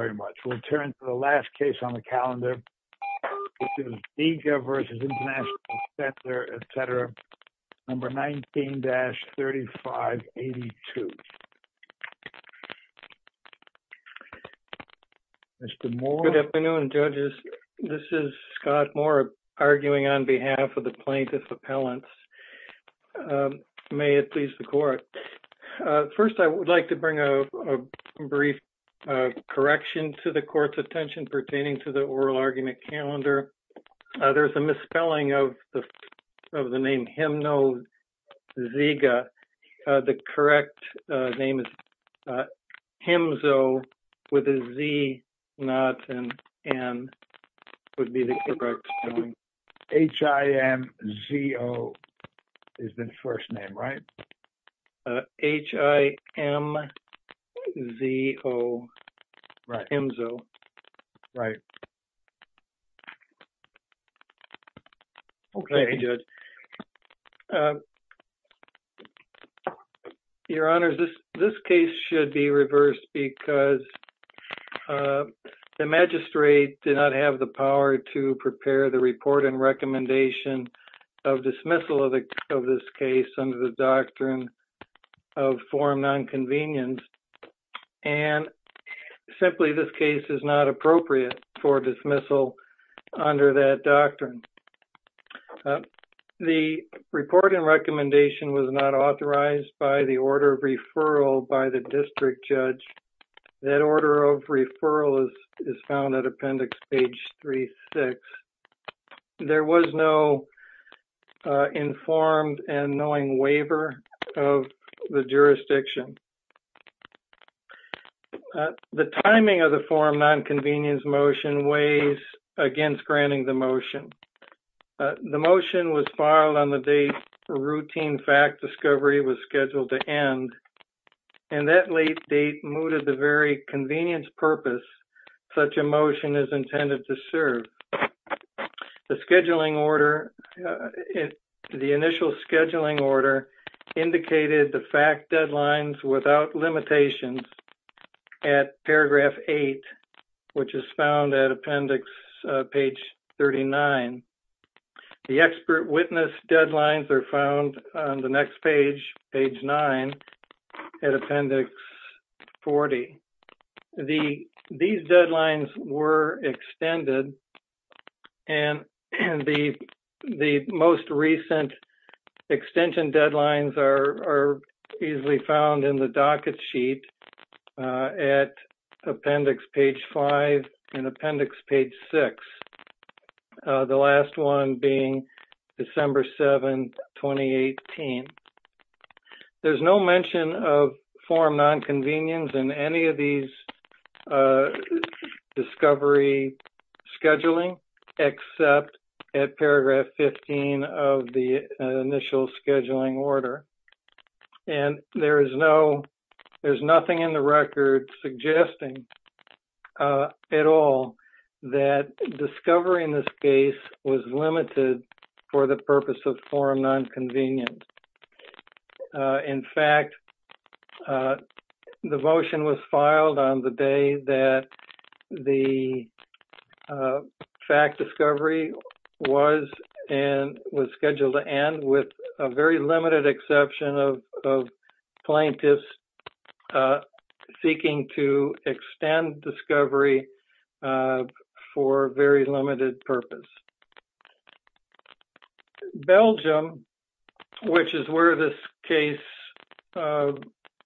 Thank you very much. We'll turn to the last case on the calendar, which is Diga v. International Center, etc., number 19-3582. Mr. Moore. Good afternoon, judges. This is Scott Moore, arguing on behalf of the plaintiff's appellants. May it please the court. First, I would like to bring a brief correction to the court's attention pertaining to the oral argument calendar. There is a misspelling of the name Himno-Ziga. The correct name is Himzo with a Z, not an N, would be the correct spelling. H-I-M-Z-O is the first name, right? H-I-M-Z-O. Right. Himzo. Right. Okay. Thank you, judge. Your Honor, this case should be reversed because the magistrate did not have the power to prepare the report and recommendation of dismissal of this case under the doctrine of forum nonconvenience. And, simply, this case is not appropriate for dismissal under that doctrine. The report and recommendation was not authorized by the order of referral by the district judge. That order of referral is found at appendix page 36. There was no informed and knowing waiver of the jurisdiction. The timing of the forum nonconvenience motion weighs against granting the motion. The motion was filed on the date a routine fact discovery was scheduled to end. And that late date mooted the very convenience purpose such a motion is intended to serve. The initial scheduling order indicated the fact deadlines without limitations at paragraph 8, which is found at appendix page 39. The expert witness deadlines are found on the next page, page 9, at appendix 40. These deadlines were extended. And the most recent extension deadlines are easily found in the docket sheet at appendix page 5 and appendix page 6. The last one being December 7, 2018. There's no mention of forum nonconvenience in any of these discovery scheduling, except at paragraph 15 of the initial scheduling order. And there's nothing in the record suggesting at all that discovering this case was limited for the purpose of forum nonconvenience. In fact, the motion was filed on the day that the fact discovery was scheduled to end with a very limited exception of plaintiffs seeking to extend discovery for very limited purpose. Belgium, which is where this case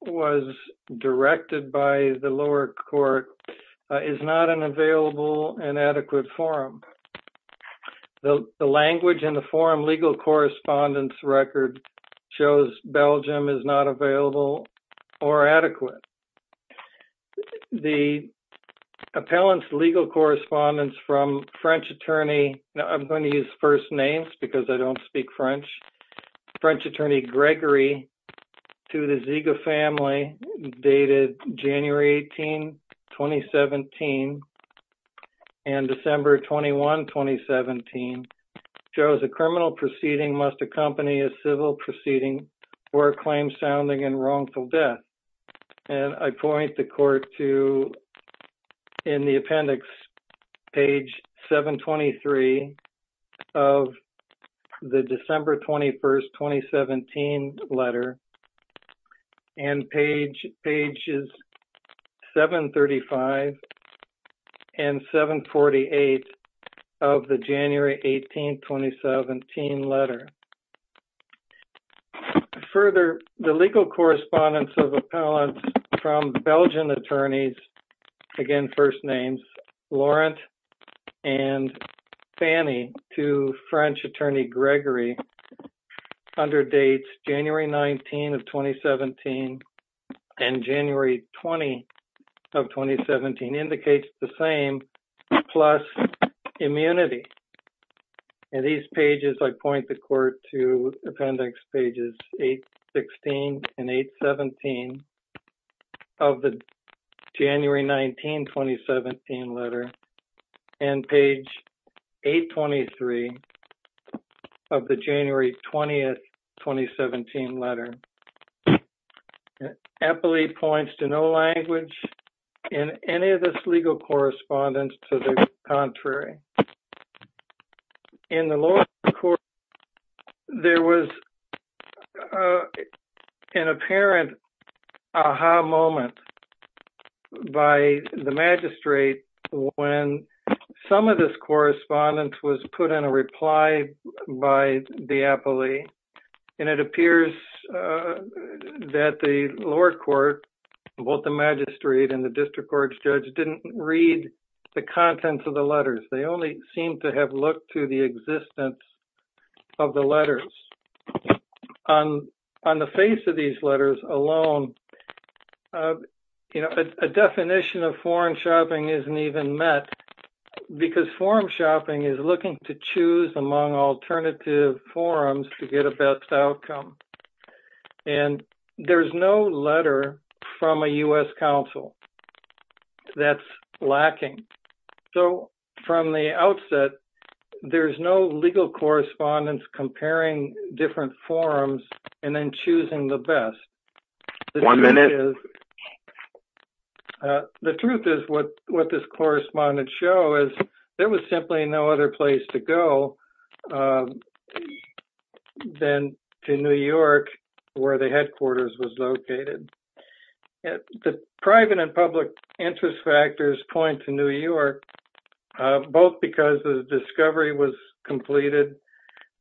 was directed by the lower court, is not an available and adequate forum. The language in the forum legal correspondence record shows Belgium is not available or adequate. The appellant's legal correspondence from French attorney, I'm going to use first names because I don't speak French, French attorney Gregory to the Ziega family dated January 18, 2017, and December 21, 2017, shows a criminal proceeding must accompany a civil proceeding or a claim sounding in wrongful death. And I point the court to, in the appendix, page 723 of the December 21, 2017, letter, and pages 735 and 748 of the January 18, 2017, letter. Further, the legal correspondence of appellants from Belgian attorneys, again, first names, Laurent and Fanny to French attorney Gregory underdates January 19, 2017, and January 20, 2017, indicates the same plus immunity. In these pages, I point the court to appendix pages 816 and 817 of the January 19, 2017, letter, and page 823 of the January 20, 2017, letter. Appellee points to no language in any of this legal correspondence to the contrary. In the lower court, there was an apparent aha moment by the magistrate when some of this correspondence was put in a reply by the appellee. And it appears that the lower court, both the magistrate and the district court judge, didn't read the contents of the letters. They only seemed to have looked to the existence of the letters. On the face of these letters alone, you know, a definition of foreign shopping isn't even met because foreign shopping is looking to choose among alternative forums to get a best outcome. And there's no letter from a U.S. counsel that's lacking. So, from the outset, there's no legal correspondence comparing different forums and then choosing the best. One minute. The truth is what this correspondence shows is there was simply no other place to go than to New York where the headquarters was located. The private and public interest factors point to New York both because the discovery was completed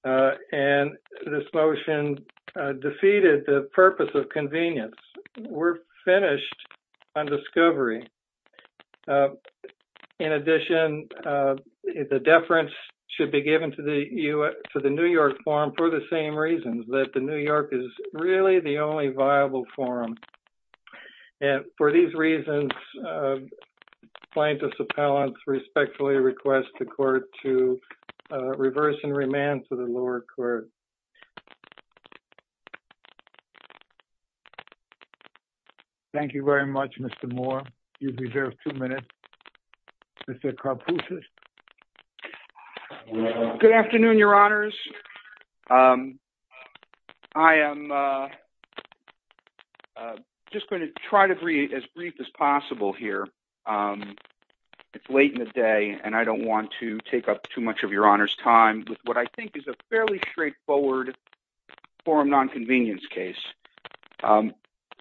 and this motion defeated the purpose of convenience. We're finished on discovery. In addition, the deference should be given to the New York forum for the same reasons, that the New York is really the only viable forum. And for these reasons, plaintiffs' appellants respectfully request the court to reverse and remand to the lower court. Thank you very much, Mr. Moore. You've reserved two minutes. Mr. Carpucci. Good afternoon, Your Honors. I am just going to try to be as brief as possible here. It's late in the day, and I don't want to take up too much of Your Honor's time with what I think is a fairly straightforward forum nonconvenience case.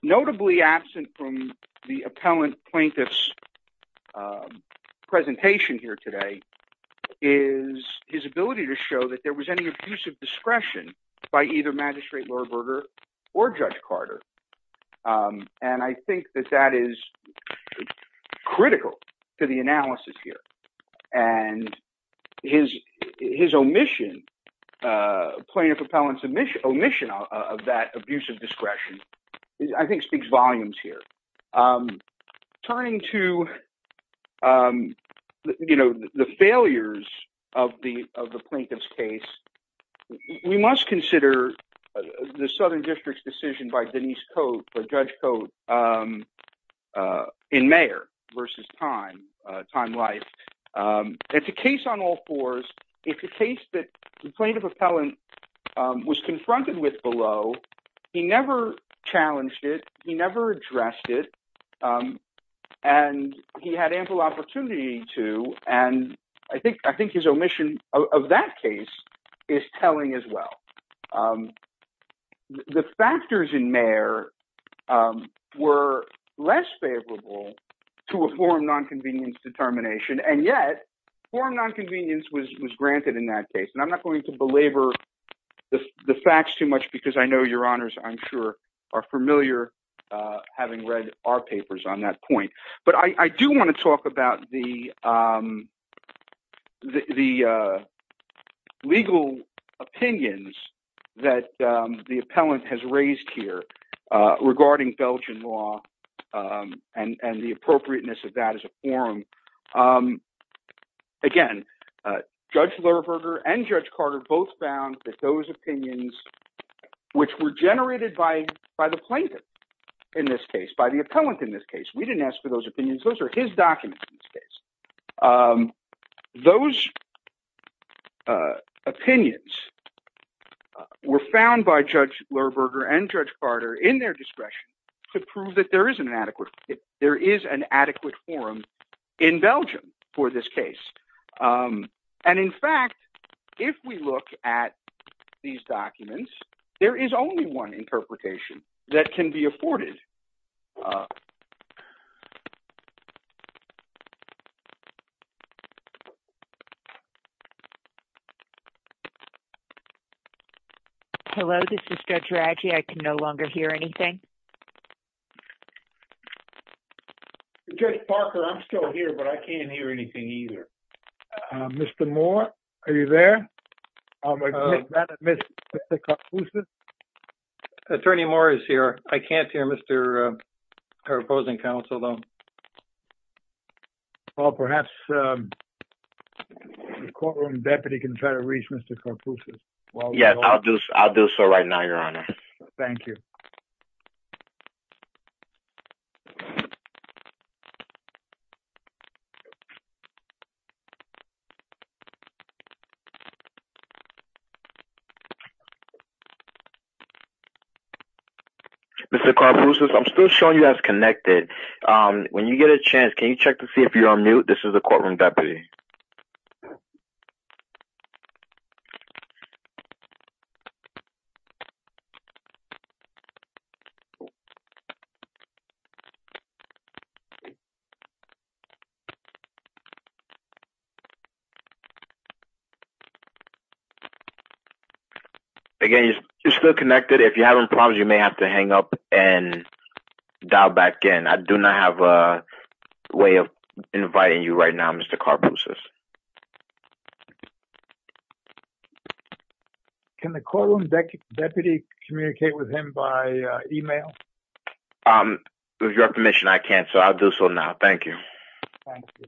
Notably absent from the appellant plaintiff's presentation here today is his ability to show that there was any abuse of discretion by either Magistrate Lohrberger or Judge Carter. And I think that that is critical to the analysis here. And his omission, plaintiff appellant's omission of that abuse of discretion, I think speaks volumes here. Turning to the failures of the plaintiff's case, we must consider the Southern District's decision by Denise Cote, or Judge Cote, in Mayer versus Time, Time-Life. It's a case on all fours. It's a case that the plaintiff appellant was confronted with below. He never challenged it. He never addressed it. And he had ample opportunity to. And I think his omission of that case is telling as well. The factors in Mayer were less favorable to a forum nonconvenience determination. And yet, forum nonconvenience was granted in that case. And I'm not going to belabor the facts too much because I know your honors, I'm sure, are familiar having read our papers on that point. But I do want to talk about the legal opinions that the appellant has raised here regarding Belgian law and the appropriateness of that as a forum. Again, Judge Lerberger and Judge Carter both found that those opinions, which were generated by the plaintiff in this case, by the appellant in this case, we didn't ask for those opinions. Those are his documents in this case. Those opinions were found by Judge Lerberger and Judge Carter in their discretion to prove that there is an adequate forum in Belgium for this case. And in fact, if we look at these documents, there is only one interpretation that can be afforded. Hello, this is Judge Raggi. I can no longer hear anything. Judge Parker, I'm still here, but I can't hear anything either. Mr. Moore, are you there? Attorney Moore is here. I can't hear her opposing counsel, though. Well, perhaps the courtroom deputy can try to reach Mr. Carpuccio. Yes, I'll do so right now, your honor. Thank you. Mr. Carpuccio, I'm still showing you as connected. When you get a chance, can you check to see if you're on mute? This is the courtroom deputy. Again, you're still connected. If you have any problems, you may have to hang up and dial back in. I do not have a way of inviting you right now, Mr. Carpuccio. Can the courtroom deputy communicate with him by email? With your permission, I can't, so I'll do so now. Thank you. Thank you.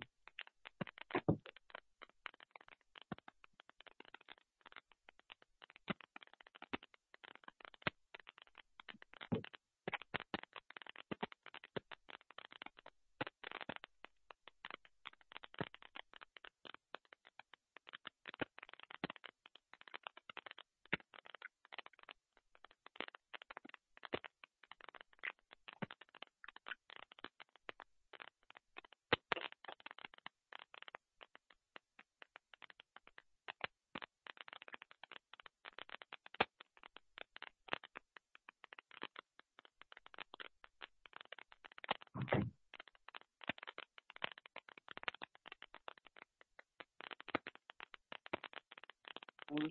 Okay.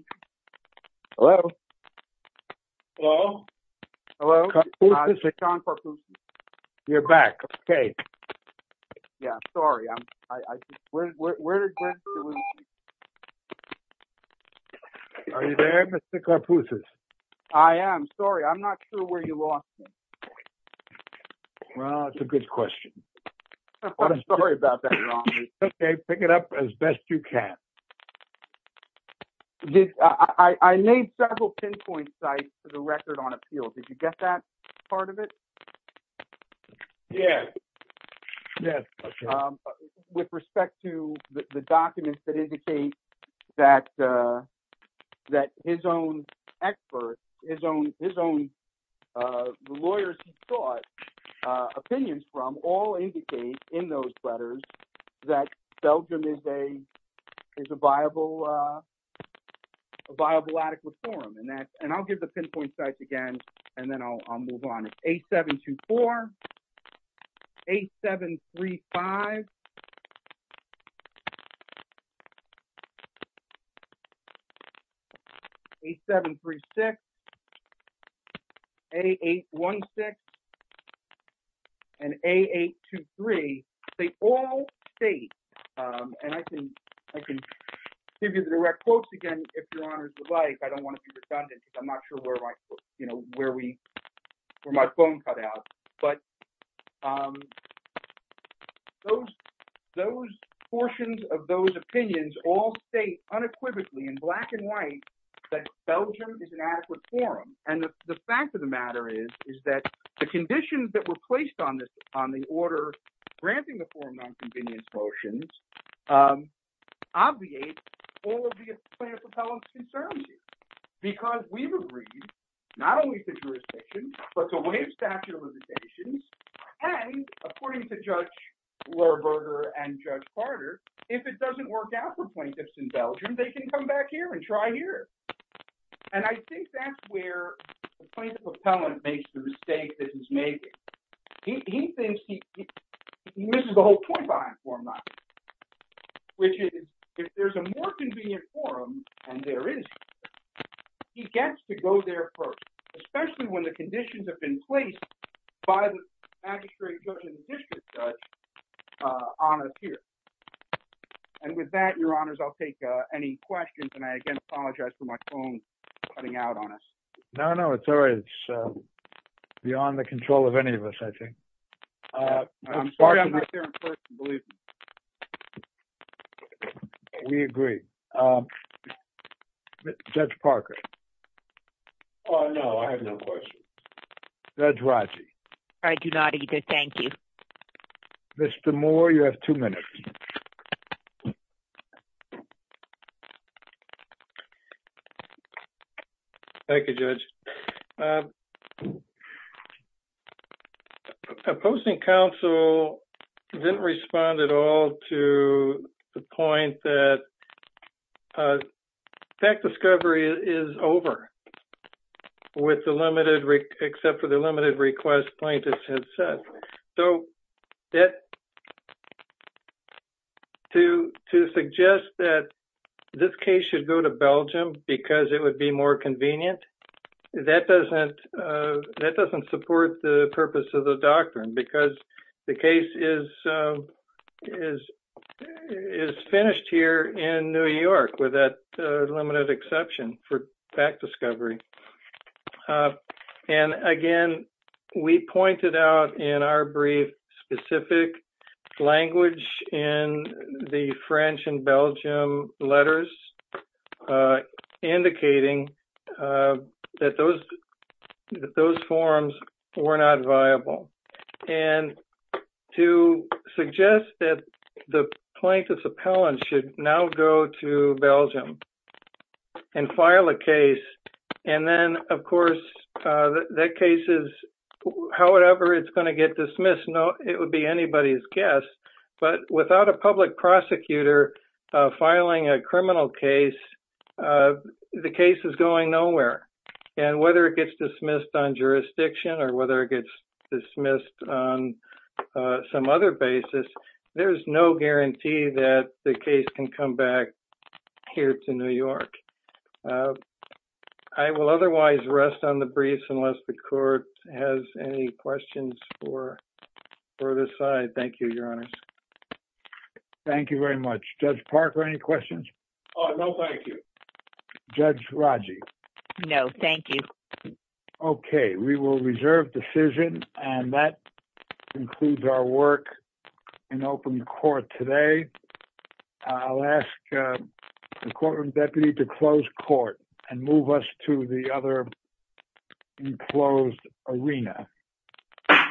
Hello? Hello? Hello? John Carpuccio. You're back. Okay. Yeah, sorry. Are you there, Mr. Carpuccio? I am. Sorry, I'm not sure where you lost me. Well, that's a good question. I'm sorry about that, your honor. Okay, pick it up as best you can. I made several pinpoint sites for the record on appeals. Did you get that part of it? Yes. Yes. With respect to the documents that indicate that his own experts, his own lawyers he sought opinions from, all indicate in those letters that Belgium is a viable adequate forum. And I'll give the pinpoint sites again, and then I'll move on. It's A724, A735, A736, A816, and A823. They all state, and I can give you the direct quotes again if your honors would like. I don't want to be redundant because I'm not sure where my phone cut out. But those portions of those opinions all state unequivocally in black and white that Belgium is an adequate forum. And the fact of the matter is, is that the conditions that were placed on the order granting the forum non-convenience motions obviate all of the plaintiff's appellant's concerns here. Because we've agreed not only to jurisdiction, but to waive statute of limitations, and according to Judge Lerberger and Judge Carter, if it doesn't work out for plaintiffs in Belgium, they can come back here and try here. And I think that's where the plaintiff's appellant makes the mistake that he's making. He thinks he misses the whole point behind forum non-convenience. Which is, if there's a more convenient forum, and there is, he gets to go there first, especially when the conditions have been placed by the magistrate, judge, and district judge on us here. And with that, your honors, I'll take any questions, and I again apologize for my phone cutting out on us. No, no, it's all right. It's beyond the control of any of us, I think. I'm sorry I'm not there in person, believe me. We agree. Judge Parker. Oh, no, I have no questions. Judge Raji. I do not either. Thank you. Mr. Moore, you have two minutes. Thank you, Judge. Opposing counsel didn't respond at all to the point that fact discovery is over with the limited, except for the limited request plaintiffs had said. So, to suggest that this case should go to Belgium because it would be more convenient, that doesn't support the purpose of the doctrine, because the case is finished here in New York, with that limited exception for fact discovery. And again, we pointed out in our brief specific language in the French and Belgium letters, indicating that those forms were not viable. And to suggest that the plaintiff's appellant should now go to Belgium and file a case, and then, of course, that case is, however it's going to get dismissed, it would be anybody's guess. But without a public prosecutor filing a criminal case, the case is going nowhere. And whether it gets dismissed on jurisdiction or whether it gets dismissed on some other basis, there's no guarantee that the case can come back here to New York. I will otherwise rest on the briefs unless the court has any questions for this side. Thank you, Your Honors. Thank you very much. Judge Parker, any questions? No, thank you. Judge Raji? No, thank you. Okay, we will reserve decision, and that concludes our work in open court today. I'll ask the courtroom deputy to close court and move us to the other enclosed arena.